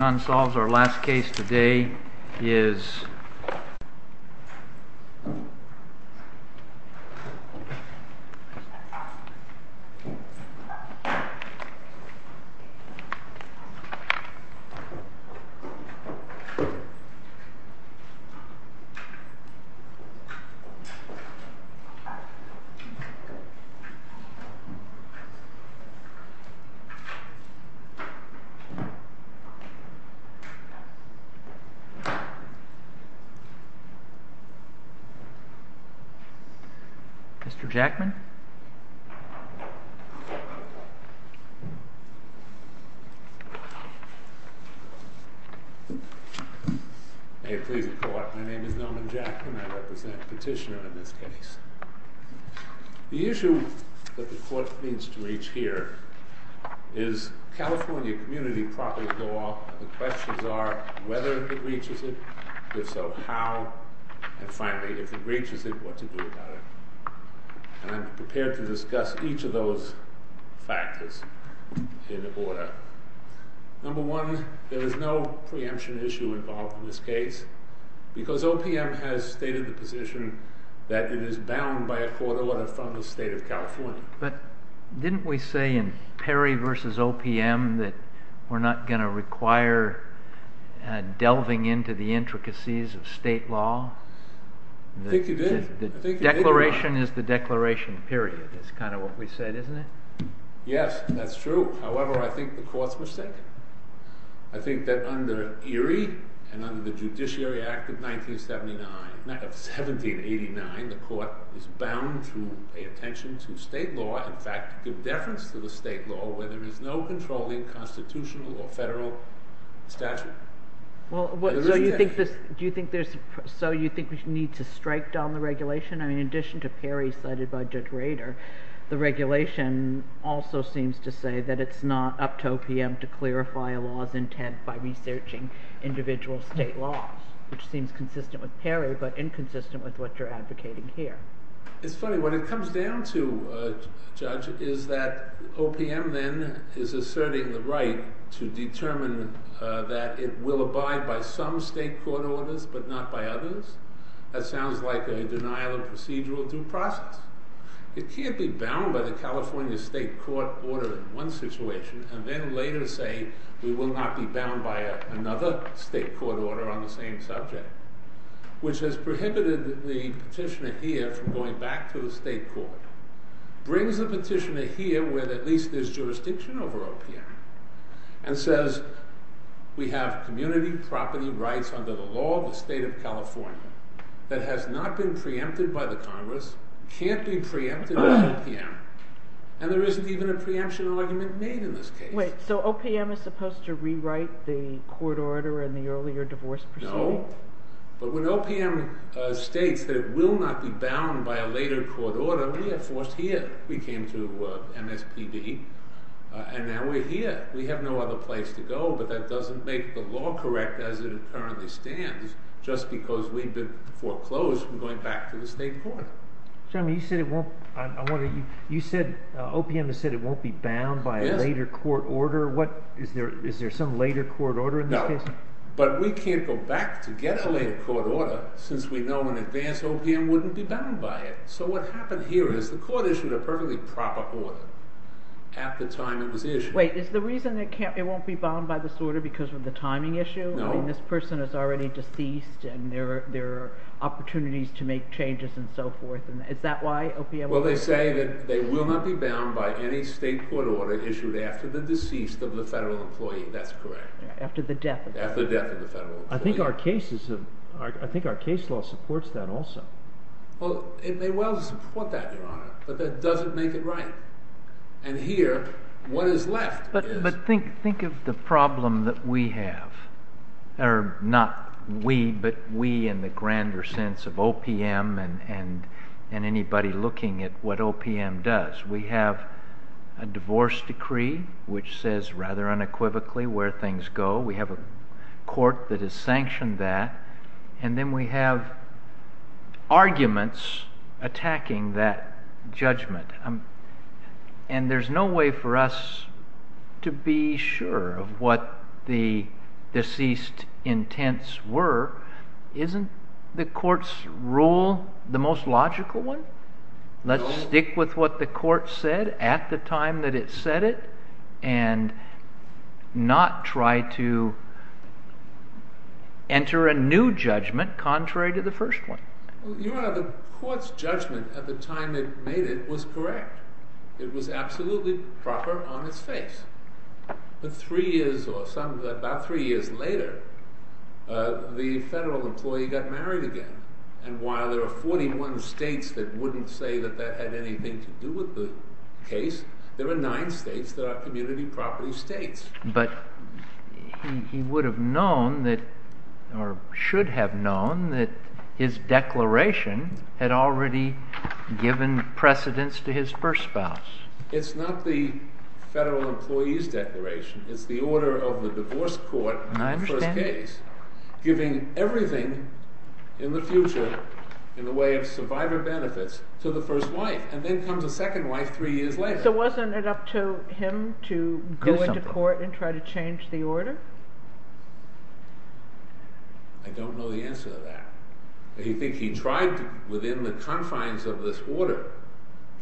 Unsolved, our last case today is Mr. Jackman. May it please the Court, my name is Norman Jackman, I represent the petitioner in this case. The issue that the Court needs to reach here is California The questions are whether it reaches it, if so, how, and finally, if it reaches it, what to do about it. I'm prepared to discuss each of those factors in order. Number one, there is no preemption issue involved in this case because OPM has stated the position that it is bound by a court order from the State of California. Didn't we say in Perry v. OPM that we're not going to require delving into the intricacies of state law? I think you did. The declaration is the declaration period, that's kind of what we said, isn't it? Yes, that's true. However, I think the Court's mistaken. I think that under Erie and under the Judiciary Act of 1979, the Court is bound to pay attention to state law, in fact, to give deference to the state law where there is no controlling constitutional or federal statute. So you think we need to strike down the regulation? I mean, in addition to Perry cited by Judge Rader, the regulation also seems to say that it's not up to OPM to clarify a law's intent by researching individual state laws, which seems consistent with Perry but inconsistent with what you're advocating here. It's funny, what it comes down to, Judge, is that OPM then is asserting the right to determine that it will abide by some state court orders but not by others. That sounds like a denial of procedural due process. It can't be bound by the California state court order in one situation and then later say we will not be bound by another state court order on the same subject, which has prohibited the petitioner here from going back to the state court, brings the petitioner here where at least there's jurisdiction over OPM, and says we have community property rights under the law of the state of California that has not been preempted by the Congress, can't be preempted by OPM, and there isn't even a preemption argument made in this case. Wait, so OPM is supposed to rewrite the court order in the earlier divorce proceeding? No, but when OPM states that it will not be bound by a later court order, we are forced here. We came to MSPD, and now we're here. We have no other place to go, but that doesn't make the law correct as it currently stands, just because we've been foreclosed from going back to the state court. You said OPM has said it won't be bound by a later court order. Is there some later court order in this case? No, but we can't go back to get a later court order since we know an advanced OPM wouldn't be bound by it. So what happened here is the court issued a perfectly proper order at the time it was issued. Wait, is the reason it won't be bound by this order because of the timing issue? No. This person is already deceased and there are opportunities to make changes and so forth. Is that why OPM won't be bound? Well, they say that they will not be bound by any state court order issued after the deceased of the federal employee. That's correct. After the death of the federal employee. I think our case law supports that also. Well, it may well support that, Your Honor, but that doesn't make it right. And here, what is left is— But think of the problem that we have. Or not we, but we in the grander sense of OPM and anybody looking at what OPM does. We have a divorce decree which says rather unequivocally where things go. We have a court that has sanctioned that. And then we have arguments attacking that judgment. And there's no way for us to be sure of what the deceased intents were. Isn't the court's rule the most logical one? Let's stick with what the court said at the time that it said it and not try to enter a new judgment contrary to the first one. Well, Your Honor, the court's judgment at the time it made it was correct. It was absolutely proper on its face. But three years or some—about three years later, the federal employee got married again. And while there are 41 states that wouldn't say that that had anything to do with the case, there are nine states that are community property states. But he would have known that—or should have known that his declaration had already given precedence to his first spouse. It's not the federal employee's declaration. It's the order of the divorce court in the first case giving everything in the future in the way of survivor benefits to the first wife. And then comes a second wife three years later. So wasn't it up to him to go into court and try to change the order? I don't know the answer to that. I think he tried to—within the confines of this order,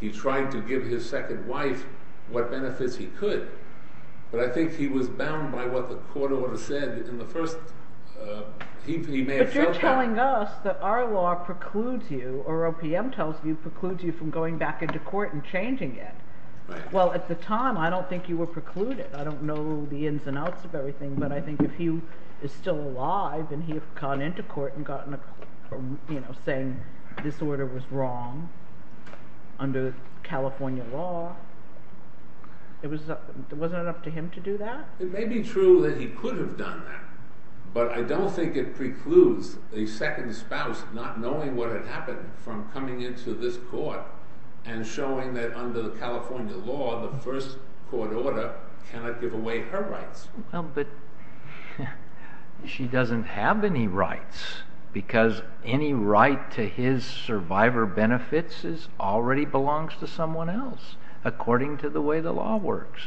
he tried to give his second wife what benefits he could. But I think he was bound by what the court order said in the first—he may have felt that. But you're telling us that our law precludes you, or OPM tells you, precludes you from going back into court and changing it. Well, at the time, I don't think you were precluded. I don't know the ins and outs of everything, but I think if he is still alive and he had gone into court and gotten a—you know, saying this order was wrong under California law, it was—wasn't it up to him to do that? It may be true that he could have done that, but I don't think it precludes a second spouse not knowing what had happened from coming into this court and showing that under the California law, the first court order cannot give away her rights. Well, but she doesn't have any rights, because any right to his survivor benefits already belongs to someone else, according to the way the law works.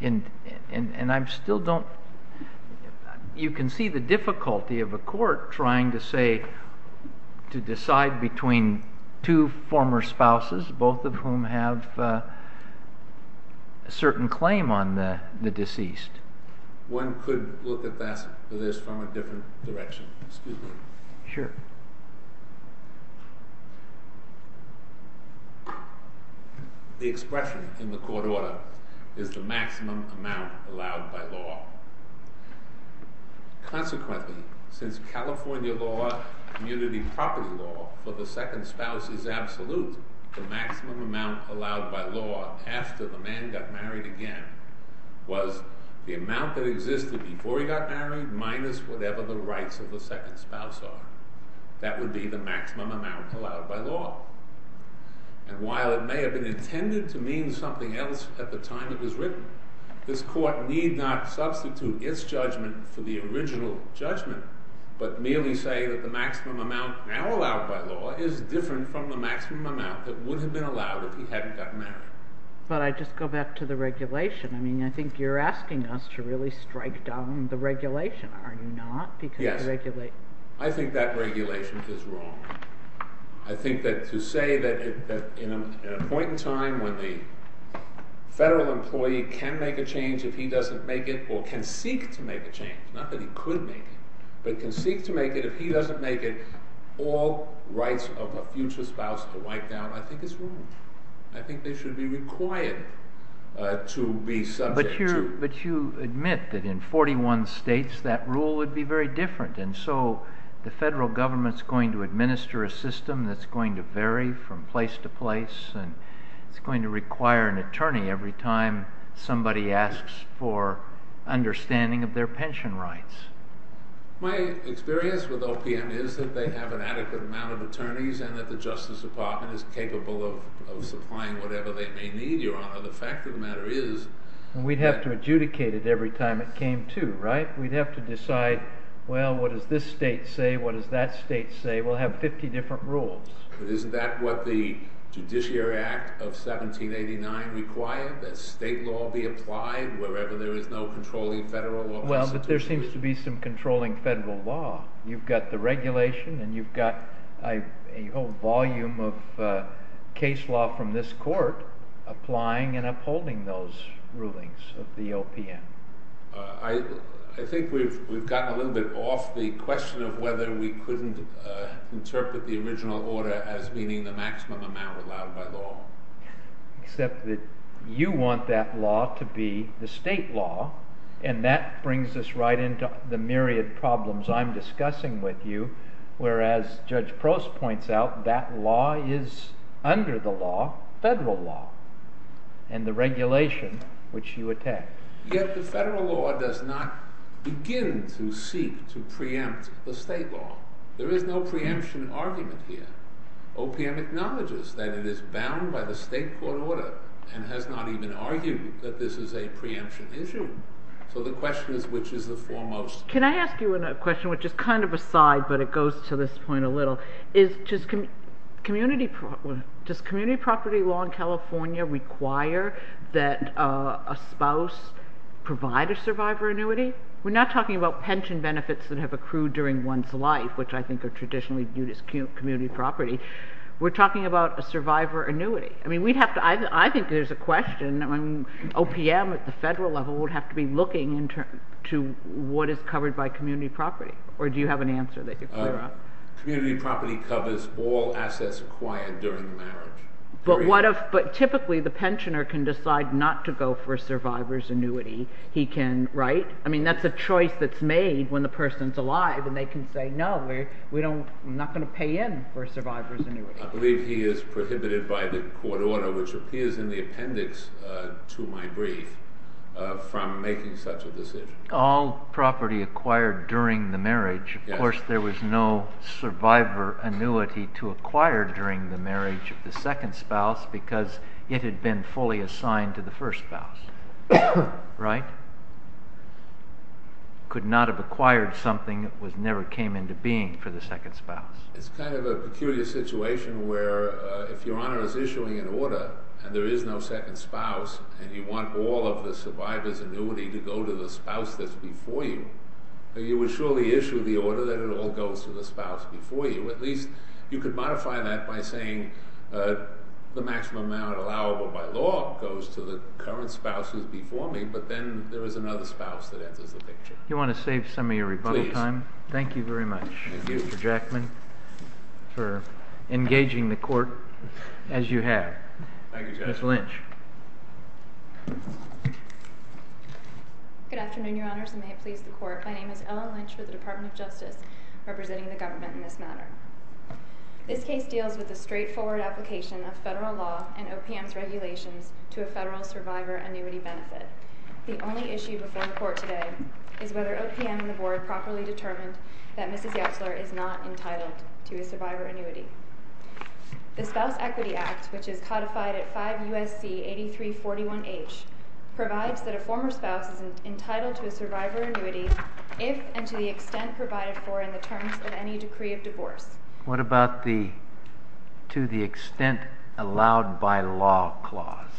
And I still don't—you can see the difficulty of a court trying to say—to decide between two former spouses, both of whom have a certain claim on the deceased. One could look at this from a different direction. Excuse me. Sure. The expression in the court order is the maximum amount allowed by law. Consequently, since California law, community property law, for the second spouse is absolute, the maximum amount allowed by law after the man got married again was the amount that existed before he got married minus whatever the rights of the second spouse are. That would be the maximum amount allowed by law. And while it may have been intended to mean something else at the time it was written, this court need not substitute its judgment for the original judgment, but merely say that the maximum amount now allowed by law is different from the maximum amount that would have been allowed if he hadn't gotten married. But I just go back to the regulation. I mean, I think you're asking us to really strike down the regulation. Are you not? Yes. I think that regulation is wrong. I think that to say that at a point in time when the federal employee can make a change if he doesn't make it or can seek to make a change, not that he could make it, but can seek to make it if he doesn't make it, all rights of a future spouse are wiped out. I think it's wrong. I think they should be required to be subject to— that's going to vary from place to place, and it's going to require an attorney every time somebody asks for understanding of their pension rights. My experience with OPM is that they have an adequate amount of attorneys and that the Justice Department is capable of supplying whatever they may need, Your Honor. The fact of the matter is— We'd have to adjudicate it every time it came to, right? We'd have to decide, well, what does this state say? What does that state say? We'll have 50 different rules. But isn't that what the Judiciary Act of 1789 required, that state law be applied wherever there is no controlling federal law constitution? Well, but there seems to be some controlling federal law. You've got the regulation, and you've got a whole volume of case law from this court applying and upholding those rulings of the OPM. I think we've gotten a little bit off the question of whether we couldn't interpret the original order as meaning the maximum amount allowed by law. Except that you want that law to be the state law, and that brings us right into the myriad problems I'm discussing with you, whereas Judge Prost points out that law is, under the law, federal law, and the regulation which you attack. Yet the federal law does not begin to seek to preempt the state law. There is no preemption argument here. OPM acknowledges that it is bound by the state court order and has not even argued that this is a preemption issue. So the question is, which is the foremost? Can I ask you a question which is kind of a side, but it goes to this point a little? Does community property law in California require that a spouse provide a survivor annuity? We're not talking about pension benefits that have accrued during one's life, which I think are traditionally viewed as community property. We're talking about a survivor annuity. I think there's a question. OPM at the federal level would have to be looking to what is covered by community property, or do you have an answer that you could clear up? Community property covers all assets acquired during the marriage. But typically the pensioner can decide not to go for a survivor's annuity. That's a choice that's made when the person's alive, and they can say, no, I'm not going to pay in for a survivor's annuity. I believe he is prohibited by the court order, which appears in the appendix to my brief, from making such a decision. All property acquired during the marriage. Of course, there was no survivor annuity to acquire during the marriage of the second spouse because it had been fully assigned to the first spouse. Right? Could not have acquired something that never came into being for the second spouse. It's kind of a peculiar situation where if Your Honor is issuing an order and there is no second spouse and you want all of the survivor's annuity to go to the spouse that's before you, you would surely issue the order that it all goes to the spouse before you. At least you could modify that by saying the maximum amount allowable by law goes to the current spouse who's before me, but then there is another spouse that enters the picture. You want to save some of your rebuttal time? Please. Thank you very much, Mr. Jackman, for engaging the court as you have. Thank you, Justice. Ms. Lynch. Good afternoon, Your Honors, and may it please the court. My name is Ellen Lynch with the Department of Justice, representing the government in this matter. This case deals with the straightforward application of federal law and OPM's regulations to a federal survivor annuity benefit. The only issue before the court today is whether OPM and the board properly determined that Mrs. Yesler is not entitled to a survivor annuity. The Spouse Equity Act, which is codified at 5 U.S.C. 8341H, provides that a former spouse is entitled to a survivor annuity if and to the extent provided for in the terms of any decree of divorce. What about the to the extent allowed by law clause?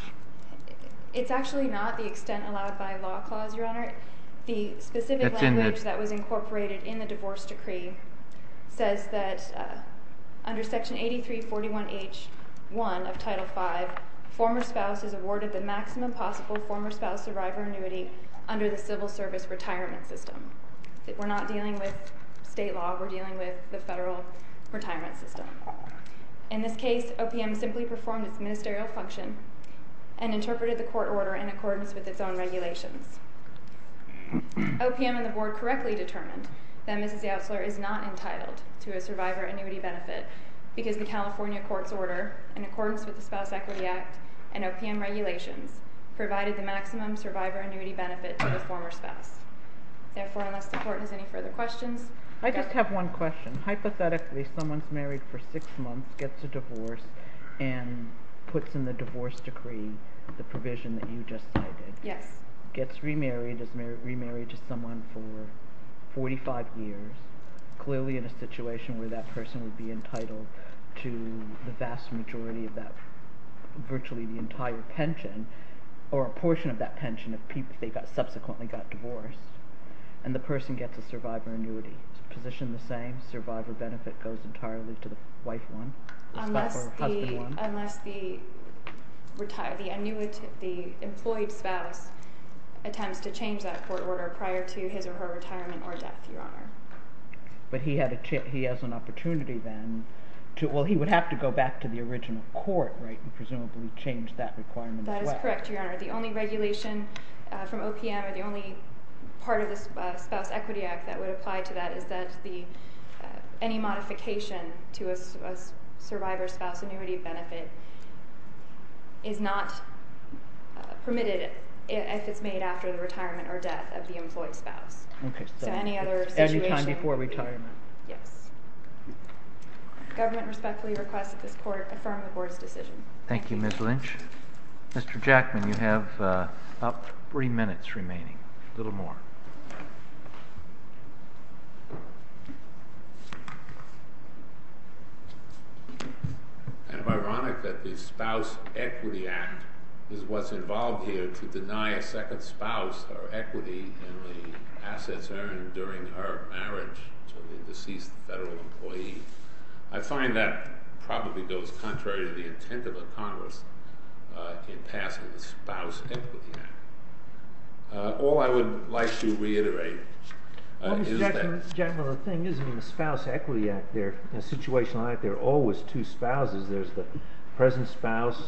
It's actually not the extent allowed by law clause, Your Honor. The specific language that was incorporated in the divorce decree says that under Section 8341H.1 of Title V, former spouses awarded the maximum possible former spouse survivor annuity under the civil service retirement system. We're not dealing with state law. We're dealing with the federal retirement system. In this case, OPM simply performed its ministerial function and interpreted the court order in accordance with its own regulations. OPM and the board correctly determined that Mrs. Yesler is not entitled to a survivor annuity benefit because the California court's order, in accordance with the Spouse Equity Act and OPM regulations, provided the maximum survivor annuity benefit to the former spouse. Therefore, unless the court has any further questions. I just have one question. Hypothetically, someone's married for six months, gets a divorce, and puts in the divorce decree the provision that you just cited. Yes. Gets remarried, is remarried to someone for 45 years, clearly in a situation where that person would be entitled to the vast majority of that virtually the entire pension or a portion of that pension if they subsequently got divorced, and the person gets a survivor annuity. Is the position the same? Survivor benefit goes entirely to the wife one? Unless the employed spouse attempts to change that court order prior to his or her retirement or death, Your Honor. But he has an opportunity then. Well, he would have to go back to the original court, right, and presumably change that requirement as well. That is correct, Your Honor. The only regulation from OPM or the only part of the Spouse Equity Act that would apply to that is that any modification to a survivor's spouse annuity benefit is not permitted if it's made after the retirement or death of the employed spouse. Okay. So any other situation? Any time before retirement. Yes. Government respectfully requests that this court affirm the board's decision. Thank you, Ms. Lynch. Mr. Jackman, you have about three minutes remaining. A little more. Am I right that the Spouse Equity Act is what's involved here to deny a second spouse her equity in the assets earned during her marriage to the deceased federal employee? I find that probably goes contrary to the intent of the Congress in passing the Spouse Equity Act. All I would like to reiterate is that… Well, Mr. Jackman, the thing is in the Spouse Equity Act, there are always two spouses. There's the present spouse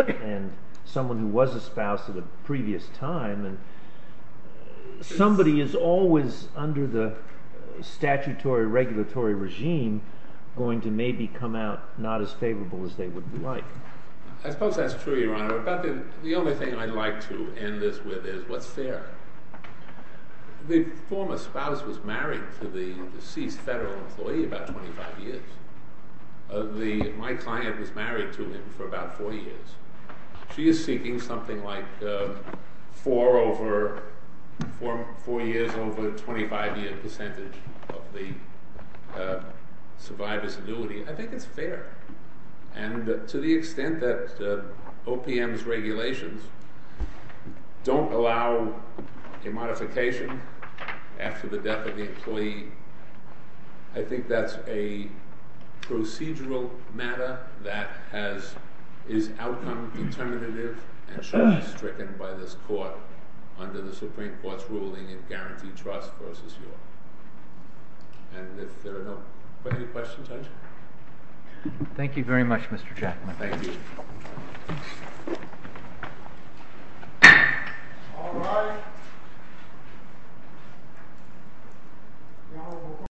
and someone who was a spouse at a previous time. Somebody is always under the statutory regulatory regime going to maybe come out not as favorable as they would like. I suppose that's true, Your Honor. But the only thing I'd like to end this with is what's fair? The former spouse was married to the deceased federal employee about 25 years. My client was married to him for about four years. She is seeking something like four years over a 25-year percentage of the survivor's annuity. I think it's fair. And to the extent that OPM's regulations don't allow a modification after the death of the employee, I think that's a procedural matter that is outcome determinative and shall be stricken by this court under the Supreme Court's ruling in Guaranteed Trust v. York. And if there are no further questions, I'd… Thank you very much, Mr. Jackman. Thank you. All rise. Court is adjourned.